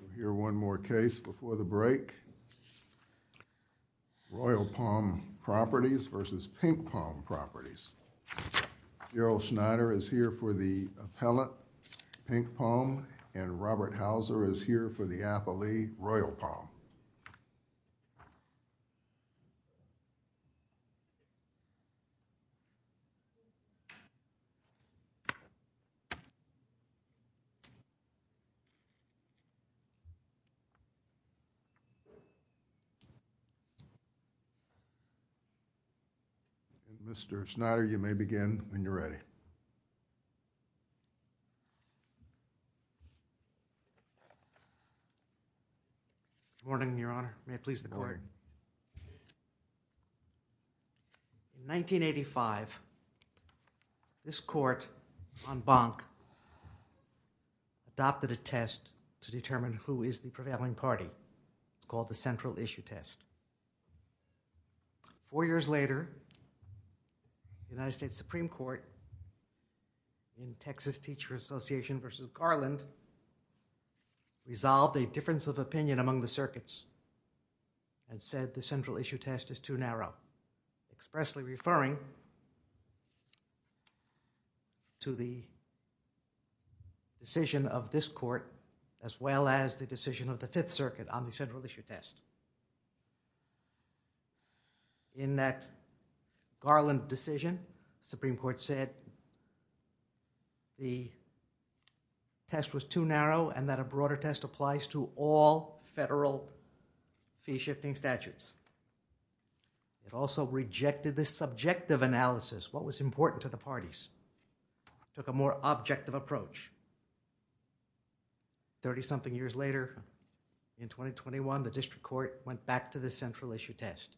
We'll hear one more case before the break. Royal Palm Properties v. Pink Palm Properties. Darrell Schneider is here for the appellate Pink Palm, and Robert Hauser is here for the Mr. Schneider, you may begin when you're ready. Good morning, Your Honor. In 1985, this court on Bank adopted a test to determine who is the prevailing party. It's called the Central Issue Test. Four years later, the United States Supreme Court in Texas Teacher Association v. Garland resolved a difference of opinion among the circuits and said the Central Issue Test is too narrow, expressly referring to the decision of this court as well as the decision of the Fifth Circuit on the Central Issue Test. In that Garland decision, Supreme Court said the test was too narrow and that a broader test applies to all federal fee-shifting statutes. It also rejected the subjective analysis, what was important to the parties. It took a more objective approach. Thirty-something years later, in 2021, the district court went back to the Central Issue Test.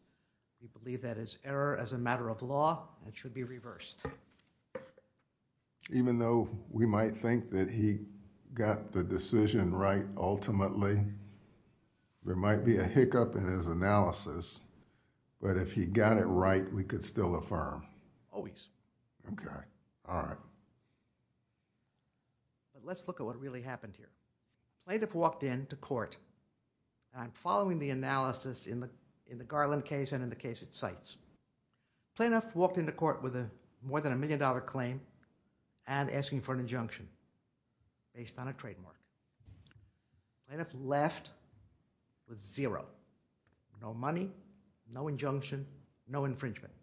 We believe that is error as a matter of law, it should be reversed. Even though we might think that he got the decision right ultimately, there might be a hiccup in his analysis, but if he got it right, we could still affirm. Always. Okay. All right. Let's look at what really happened here. Plaintiff walked into court. I'm following the analysis in the Garland case and in the case it cites. Plaintiff walked into court with more than a million dollar claim and asking for an injunction based on a trademark. Plaintiff left with zero. No money, no injunction, no infringement.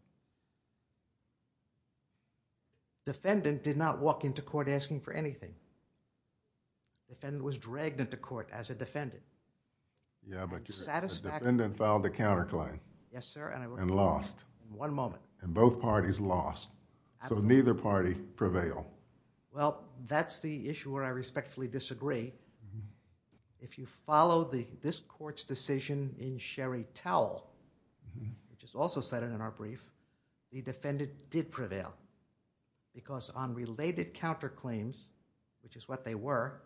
Defendant did not walk into court asking for anything. Defendant was dragged into court as a defendant. Satisfactory... Yeah, but defendant filed a counterclaim. Yes, sir. And lost. In one moment. And both parties lost, so neither party prevailed. Well, that's the issue where I respectfully disagree. If you follow this court's decision in Sherry Towell, which is also cited in our brief, the defendant did prevail because on related counterclaims, which is what they were,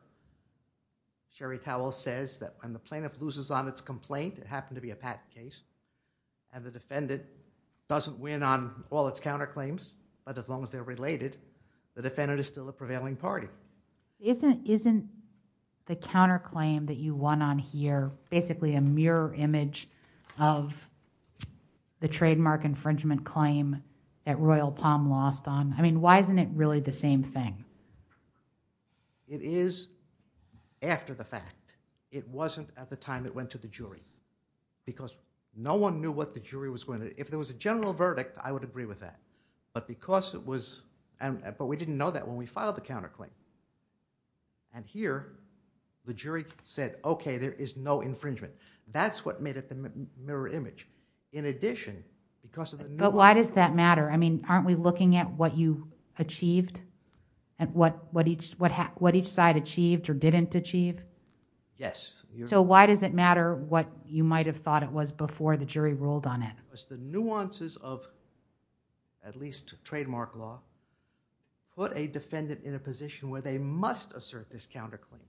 Sherry Towell says that when the plaintiff loses on its complaint, it happened to be a patent case, and the defendant doesn't win on all its counterclaims, but as long as they're related, the defendant is still a prevailing party. Isn't the counterclaim that you won on here basically a mirror image of the trademark infringement claim that Royal Palm lost on? I mean, why isn't it really the same thing? It is after the fact. It wasn't at the time it went to the jury because no one knew what the jury was going to... If there was a general verdict, I would agree with that, but because it was... We didn't know that when we filed the counterclaim. Here, the jury said, okay, there is no infringement. That's what made it the mirror image. In addition, because of the... Why does that matter? I mean, aren't we looking at what you achieved? What each side achieved or didn't achieve? Yes. Why does it matter what you might have thought it was before the jury ruled on it? The nuances of at least trademark law put a defendant in a position where they must assert this counterclaim.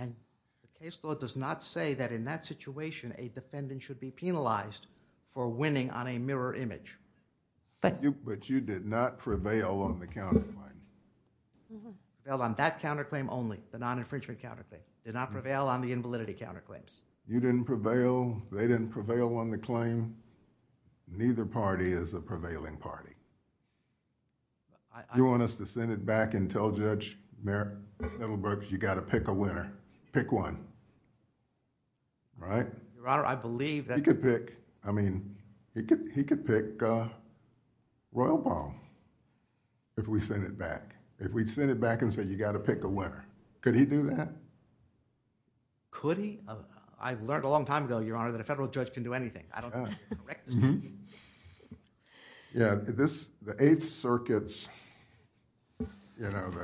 The case law does not say that in that situation, a defendant should be penalized for winning on a mirror image. But you did not prevail on the counterclaim. Prevailed on that counterclaim only, the non-infringement counterclaim. Did not prevail on the invalidity counterclaims. You didn't prevail. They didn't prevail on the claim. Neither party is a prevailing party. You want us to send it back and tell Judge Middlebrook, you got to pick a winner. Pick one. Right? Your Honor, I believe that... He could pick... I mean, he could pick Royal Palm if we sent it back. If we sent it back and said, you got to pick a winner. Could he do that? Could he? I've learned a long time ago, Your Honor, that a federal judge can do anything. I don't know if you're correct. The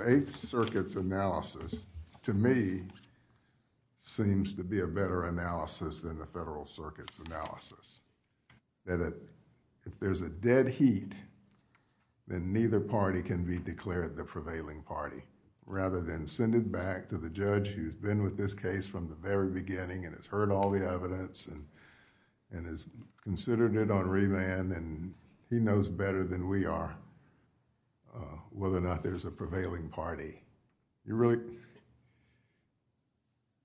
Eighth Circuit's analysis, to me, seems to be a better analysis than the Federal Circuit's analysis. If there's a dead heat, then neither party can be declared the prevailing party. Rather than send it back to the judge who's been with this case from the very beginning and has heard all the evidence and has considered it on revand and he knows better than we are whether or not there's a prevailing party.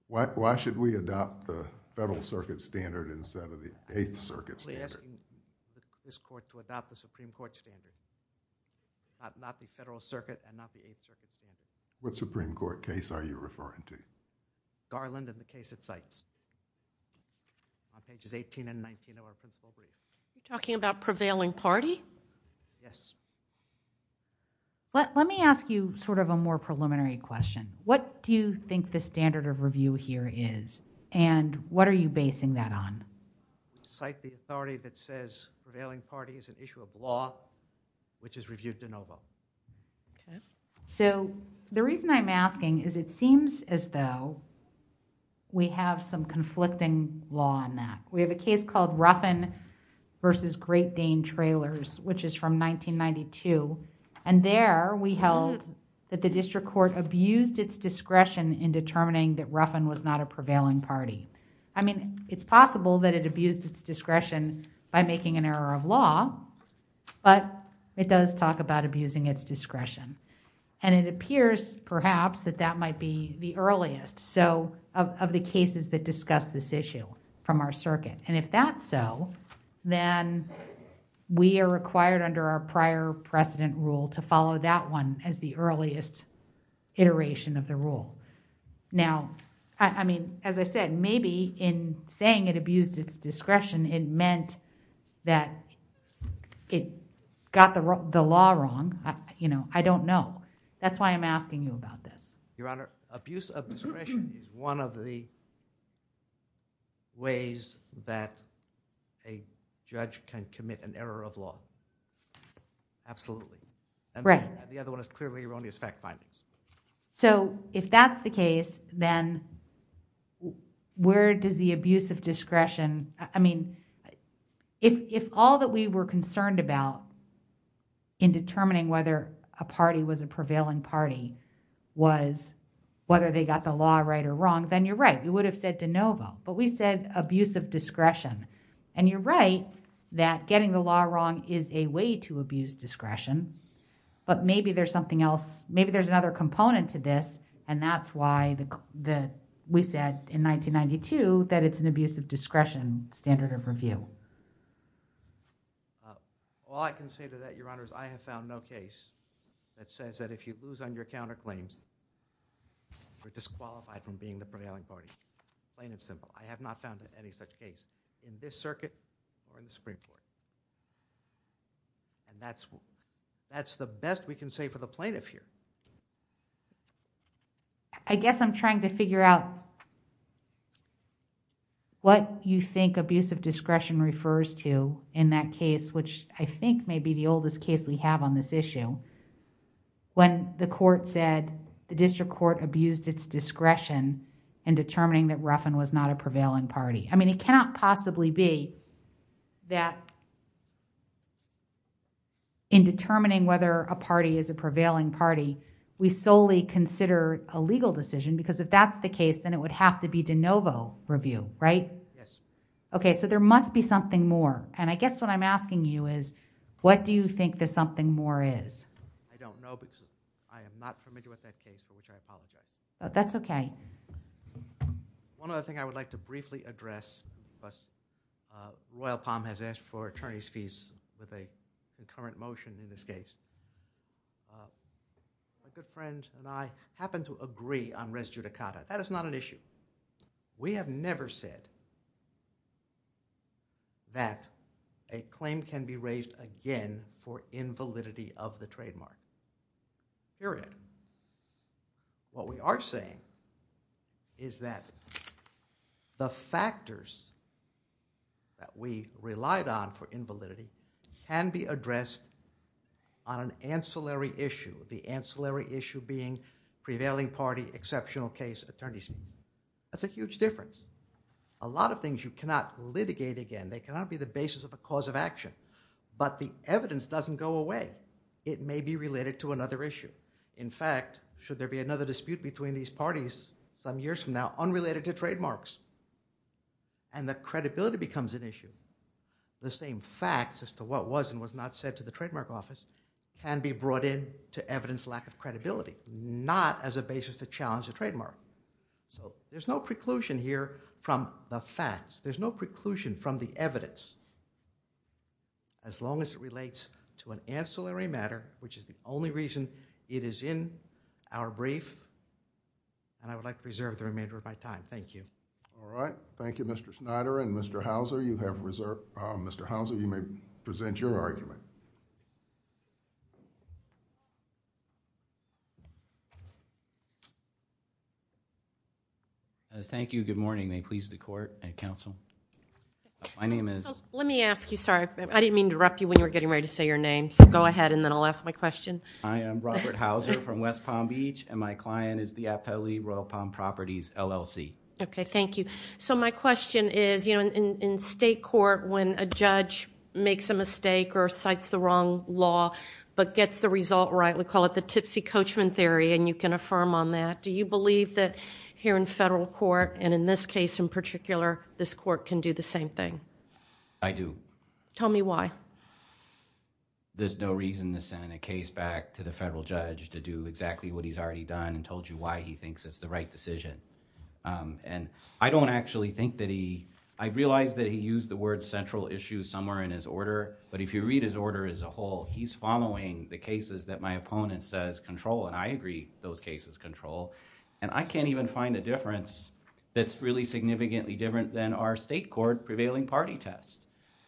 Why should we adopt the Federal Circuit standard instead of the Eighth Circuit standard? What Supreme Court case are you referring to? Garland and the case at sites on pages eighteen and nineteen of our principle brief. You're talking about prevailing party? Yes. Let me ask you a more preliminary question. What do you think the standard of review here is and what are you basing that on? Do you cite the authority that says prevailing party is an issue of law, which is reviewed de novo? The reason I'm asking is it seems as though we have some conflicting law on that. We have a case called Ruffin v. Great Dane Trailers, which is from 1992 and there we held that the district court abused its discretion in determining that Ruffin was not a prevailing party. It's possible that it abused its discretion by making an error of law, but it does talk about abusing its discretion. It appears perhaps that that might be the earliest of the cases that discuss this issue from our circuit. If that's so, then we are required under our prior precedent rule to follow that one as the earliest iteration of the rule. As I said, maybe in saying it abused its discretion, it meant that it got the law wrong. I don't know. That's why I'm asking you about this. Your Honor, abuse of discretion is one of the ways that a judge can commit an error of law. Absolutely. The other one is clearly erroneous fact findings. If that's the case, then where does the abuse of discretion... I mean, if all that we were concerned about in determining whether a party was a prevailing party was whether they got the law right or wrong, then you're right. You would have said de novo, but we said abuse of discretion. You're right that getting the law wrong is a way to abuse discretion, but maybe there's something else. Maybe there's another component to this and that's why we said in 1992 that it's an abuse of discretion standard of review. All I can say to that, Your Honor, is I have found no case that says that if you lose on your counterclaims, you're disqualified from being the prevailing party. Plain and simple. I have not found any such case in this circuit or in the Supreme Court. That's the best we can say for the plaintiff here. I guess I'm trying to figure out what you think abuse of discretion refers to in that case, which I think may be the oldest case we have on this issue. When the court said the district court abused its discretion in determining that Ruffin was not a prevailing party. I mean, it cannot possibly be that in determining whether a party is a prevailing party, we solely consider a legal decision because if that's the case, then it would have to be de novo review, right? Yes. Okay. There must be something more. I guess what I'm asking you is what do you think the something more is? I don't know because I am not familiar with that case for which I apologize. That's okay. One other thing I would like to briefly address. Royal Palm has asked for attorney's fees with a concurrent motion in this case. A good friend and I happen to agree on res judicata. That is not an issue. We have never said that a claim can be raised again for invalidity of the trademark. Period. What we are saying is that the factors that we relied on for invalidity can be addressed on an ancillary issue. The ancillary issue being prevailing party exceptional case attorneys. That's a huge difference. A lot of things you cannot litigate again. They cannot be the basis of a cause of action but the evidence doesn't go away. It may be related to another issue. In fact, should there be another dispute between these parties some years from now unrelated to trademarks and the credibility becomes an issue. The same facts as to what was and was not said to the trademark office can be brought in to evidence lack of credibility. Not as a basis to challenge a trademark. There is no preclusion here from the facts. There is no preclusion from the evidence. As long as it relates to an ancillary matter which is the only reason it is in our brief and I would like to reserve the remainder of my time. Thank you. All right. Thank you Mr. Schneider and Mr. Houser. You may present your argument. Good morning. May it please the court and counsel. My name is. Let me ask you. Sorry. I didn't mean to interrupt you when you were getting ready to say your name. Go ahead and then I will ask my question. I am Robert Houser from West Palm Beach and my client is the Appellee Royal Palm Properties LLC. Okay. Thank you. My question is in state court when a judge makes a mistake or cites the wrong law but gets the result right. We call it the tipsy coachman theory and you can affirm on that. Do you believe that here in federal court and in this case in particular this court can do the same thing? I do. Tell me why. There's no reason to send a case back to the federal judge to do exactly what he's already done and told you why he thinks it's the right decision. I don't actually think that he... I realize that he used the word central issue somewhere in his order but if you read his order as a whole, he's following the cases that my opponent says control and I agree those cases control and I can't even find a difference that's really significantly different than our state court prevailing party test.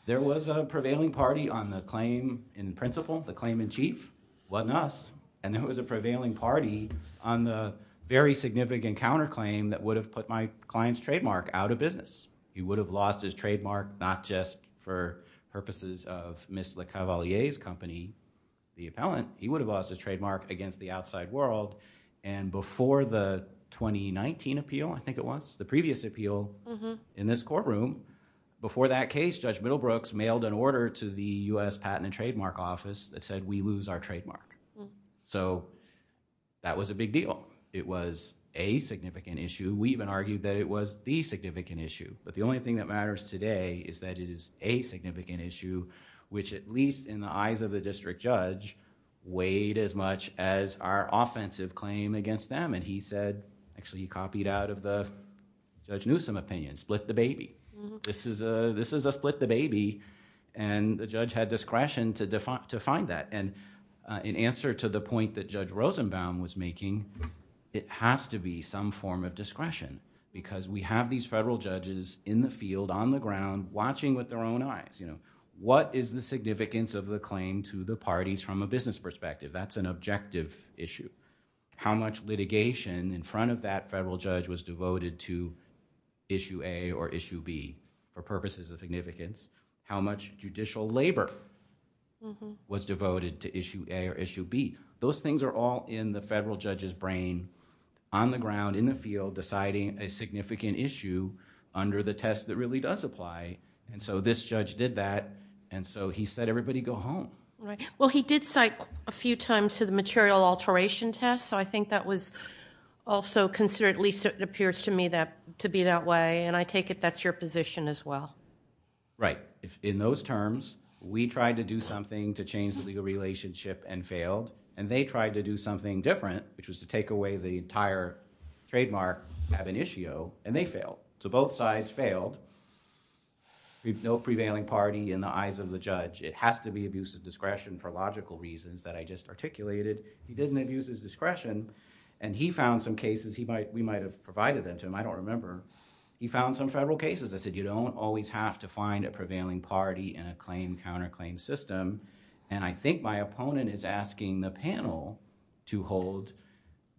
There was a prevailing party on the claim in principle, the claim in chief. It wasn't us and there was a prevailing party on the very significant counterclaim that would have put my client's trademark out of business. He would have lost his trademark not just for purposes of Ms. LeCavalier's company, the appellant. He would have lost his trademark against the outside world and before the previous appeal in this courtroom, before that case, Judge Middlebrooks mailed an order to the U.S. Patent and Trademark Office that said we lose our trademark. That was a big deal. It was a significant issue. We even argued that it was the significant issue. The only thing that matters today is that it is a significant issue which at least in the eyes of the district judge weighed as much as our offensive claim against them and he said, actually he copied out of the Judge Newsom opinion, split the baby. This is a split the baby and the judge had discretion to define that. In answer to the point that Judge Rosenbaum was making, it has to be some form of discretion because we have these federal judges in the field, on the ground watching with their own eyes. What is the significance of the claim to the parties from a business perspective? That's an objective issue. How much litigation in front of that federal judge was devoted to Issue A or Issue B for purposes of significance? How much judicial labor was devoted to Issue A or Issue B? Those things are all in the federal judge's brain on the ground, in the field deciding a significant issue under the test that really does apply. This judge did that and so he said everybody go home. Well, he did cite a few times to the material alteration test, so I think that was also considered, at least it appears to me, to be that way and I take it that's your position as well. Right. In those terms, we tried to do something to change the legal relationship and failed and they tried to do something different, which was to take away the entire trademark of an issue and they failed. No prevailing party in the eyes of the judge. It has to be abuse of discretion for logical reasons that I just articulated. He didn't abuse his discretion and he found some cases, we might have provided them to him, I don't remember. He found some federal cases that said you don't always have to find a prevailing party in a claim-counterclaim system and I think my opponent is asking the panel to hold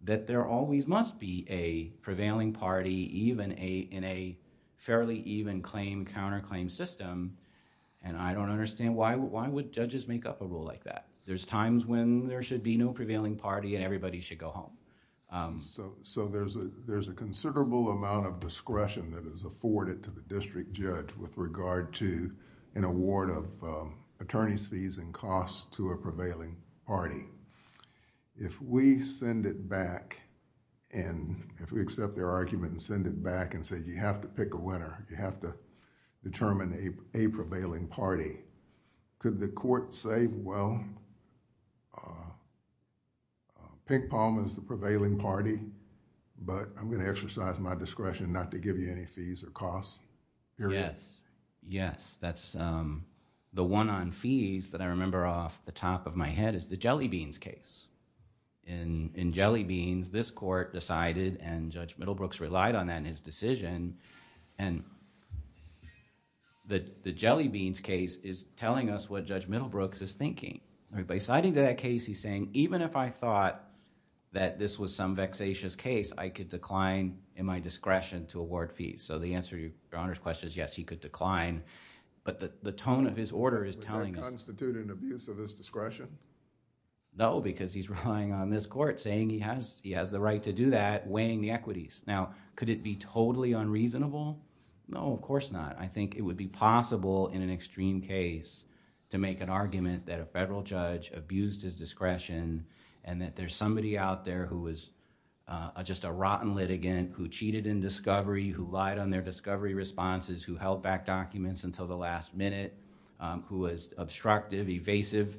that there always must be a prevailing party even in a fairly even claim-counterclaim system and I don't understand why would judges make up a rule like that. There's times when there should be no prevailing party and everybody should go home. There's a considerable amount of discretion that is afforded to the district judge with regard to an award of attorney's fees and costs to a prevailing party. If we send it back and if we accept their argument and send it back and say, you have to pick a winner, you have to determine a prevailing party, could the court say, well, Pink Palm is the prevailing party but I'm going to exercise my discretion not to give you any fees or costs? Yes. Yes. That's the one on fees that I remember off the top of my head is the Jelly Beans case. In Jelly Beans, this court decided and Judge Middlebrooks relied on that in his decision and the Jelly Beans case is telling us what Judge Middlebrooks is thinking. By citing that case, he's saying, even if I thought that this was some vexatious case, I could decline in my discretion to award fees. The answer to Your Honor's question is yes, he could decline but the tone of his order is telling us... Would that constitute an abuse of his discretion? No, because he's relying on this court saying he has the right to do that, weighing the equities. Now, could it be totally unreasonable? No, of course not. I think it would be possible in an extreme case to make an argument that a federal judge abused his discretion and that there's somebody out there who was just a rotten litigant who cheated in discovery, who lied on their discovery responses, who held back documents until the last minute, who was obstructive, evasive.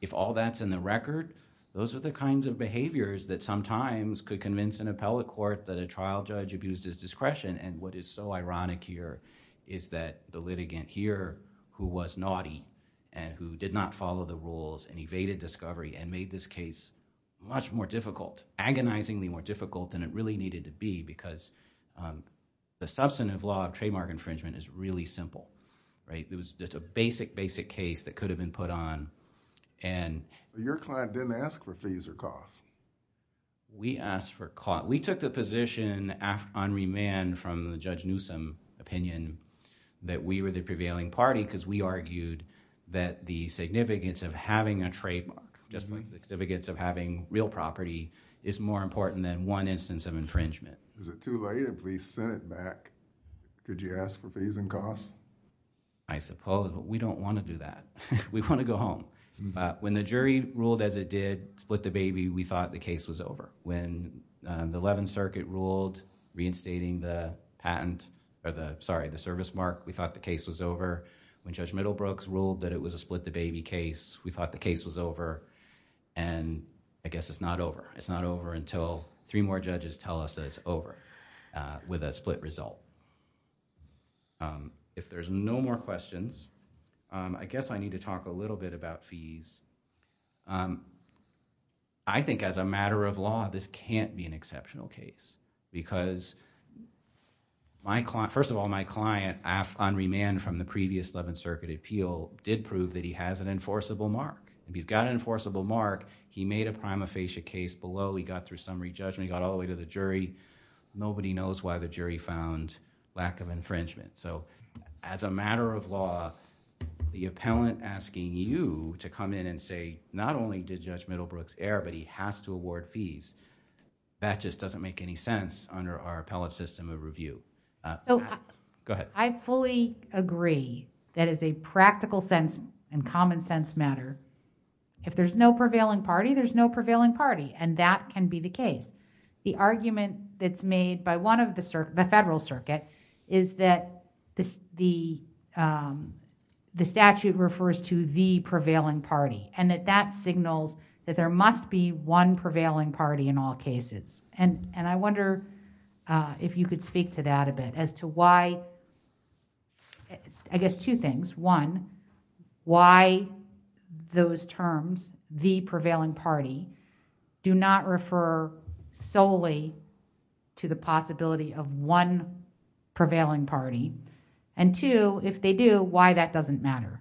If all that's in the record, those are the kinds of behaviors that sometimes could convince an appellate court that a trial judge abused his discretion. What is so ironic here is that the litigant here who was naughty and who did not follow the rules and evaded discovery and made this case much more difficult, agonizingly more difficult than it really needed to be because the substantive law of trademark infringement is really simple. It's a basic, basic case that could have been put on and... We took the position on remand from the Judge Newsom opinion that we were the prevailing party because we argued that the significance of having a trademark, just like the significance of having real property is more important than one instance of infringement. Is it too late if we sent it back? Could you ask for fees and costs? I suppose, but we don't want to do that. We want to go home. When the jury ruled as it did, split the baby, we thought the case was over. When the Eleventh Circuit ruled reinstating the patent, sorry, the service mark, we thought the case was over. When Judge Middlebrooks ruled that it was a split the baby case, we thought the case was over and I guess it's not over. It's not over until three more judges tell us that it's over with a split result. If there's no more questions, I guess I need to talk a little bit about fees. I think as a matter of law, this can't be an exceptional case because first of all, my client on remand from the previous Eleventh Circuit appeal did prove that he has an enforceable mark. If he's got an enforceable mark, he made a prima facie case below, he got through summary judgment, he got all the way to the jury. Nobody knows why the jury found lack of infringement. As a matter of law, the appellant asking you to come in and say not only did Judge Middlebrooks err but he has to award fees, that just doesn't make any sense under our appellate system of review. Go ahead. I fully agree that as a practical sense and common sense matter, if there's no prevailing party, there's no prevailing party and that can be the case. The argument that's made by one of the federal circuit is that the statute refers to the prevailing party and that that signals that there must be one prevailing party in all cases. I wonder if you could speak to that a bit as to why... I guess two solely to the possibility of one prevailing party and two, if they do, why that doesn't matter?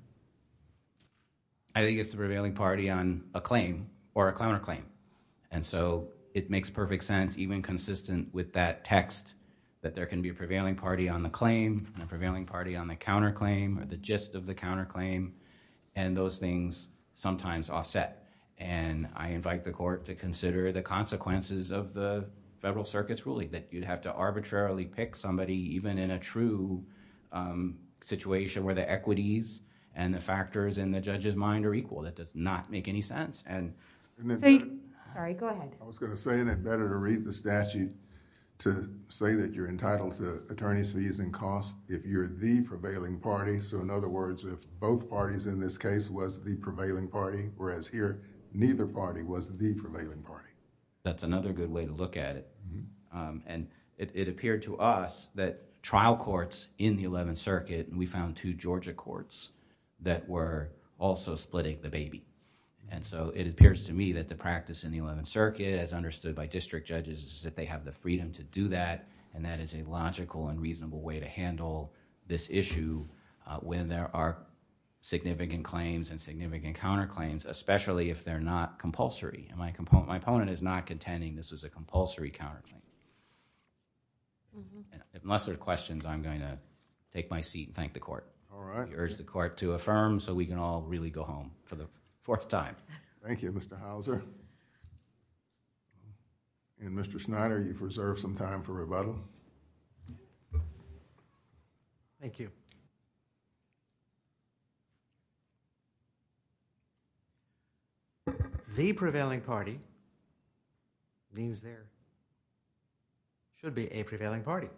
I think it's the prevailing party on a claim or a counterclaim. It makes perfect sense even consistent with that text that there can be a prevailing party on the claim and a prevailing party on the counterclaim or the gist of the counterclaim and those things sometimes offset. I invite the court to consider the consequences of the federal circuit's ruling, that you'd have to arbitrarily pick somebody even in a true situation where the equities and the factors in the judge's mind are equal. That does not make any sense. I was going to say that it's better to read the statute to say that you're entitled to attorney's fees and costs if you're the prevailing party. In other words, if both parties in this case was the prevailing party whereas here neither party was the prevailing party. That's another good way to look at it. It appeared to us that trial courts in the Eleventh Circuit and we found two Georgia courts that were also splitting the baby. It appears to me that the practice in the Eleventh Circuit as understood by district judges is that they have the freedom to do that and that is a logical and reasonable way to handle this issue when there are significant claims and significant counterclaims especially if they're not compulsory. My opponent is not contending this is a compulsory counterclaim. Unless there are questions, I'm going to take my seat and thank the court. I urge the court to affirm so we can all really go home for the fourth time. Thank you, Mr. Hauser. Mr. Schneider, you've reserved some time for rebuttal. Thank you. The prevailing party means there should be a prevailing party.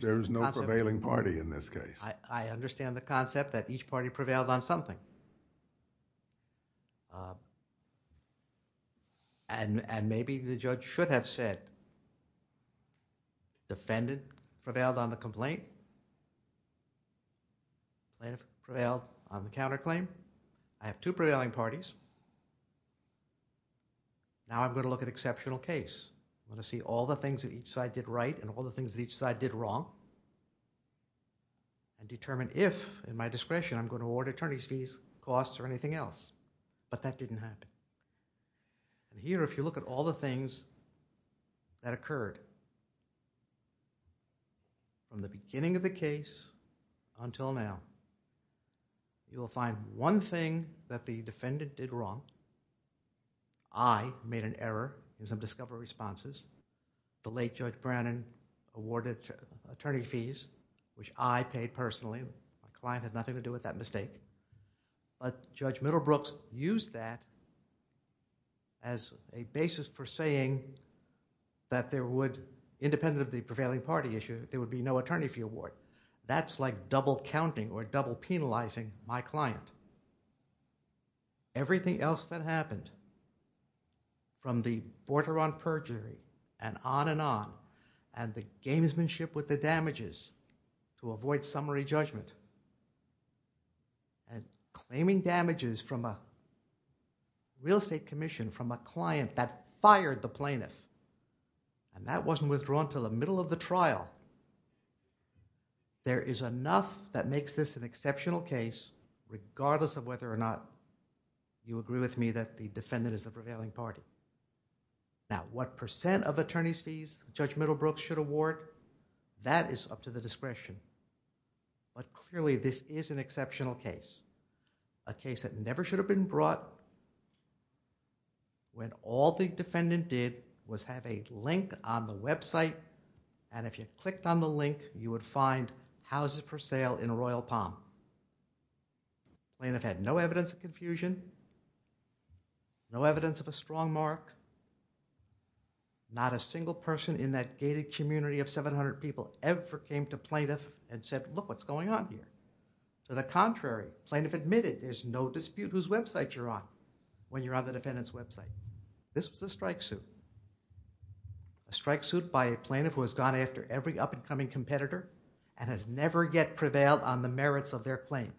There is no prevailing party in this case. I understand the concept that each party prevailed on something and maybe the judge should have said defendant prevailed on the complaint, plaintiff prevailed on the counterclaim. I have two prevailing parties. Now, I'm going to look at exceptional case. I'm going to see all the things that each side did right and all the things that each side did wrong and determine if in my discretion I'm going to award attorney's fees, costs or anything else but that didn't happen. Here, if you look at all the things that occurred from the beginning of the case, you will find one thing that the defendant did wrong. I made an error in some discovery responses. The late Judge Brannon awarded attorney fees which I paid personally. My client had nothing to do with that mistake. Judge Middlebrooks used that as a basis for saying that there would, independent of the prevailing party issue, there would be no attorney fee award. That's like double counting or double penalizing my client. Everything else that happened from the border on perjury and on and on and the gamesmanship with the damages to avoid summary judgment and claiming damages from a real estate commission from a client that fired the plaintiff and that There is enough that makes this an exceptional case regardless of whether or not you agree with me that the defendant is the prevailing party. Now, what percent of attorney's fees Judge Middlebrooks should award, that is up to the discretion. Clearly, this is an exceptional case. A case that never should have been brought when all the defendant did was have a link on the website and if you clicked on the link, you would find houses for sale in Royal Palm. Plaintiff had no evidence of confusion, no evidence of a strong mark, not a single person in that gated community of 700 people ever came to plaintiff and said, look what's going on here. To the contrary, plaintiff admitted there's no dispute whose website you're on when you're on the defendant's website. This was a strike suit, a strike suit by a plaintiff who has gone after every up-and-coming competitor and has never yet prevailed on the merits of their claim.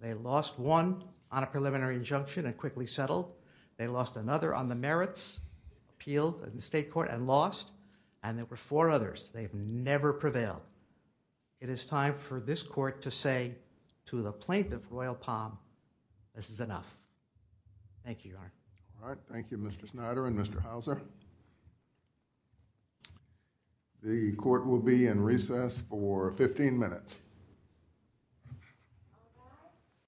They lost one on a preliminary injunction and quickly settled. They lost another on the merits, appealed in the state court and lost and there were four others. They've never prevailed. It is time for this court to say to the plaintiff Royal Palm, this is enough. Thank you, Your Honor. All right. Thank you, Mr. Snyder and Mr. Hauser. The court will be in recess for 15 minutes.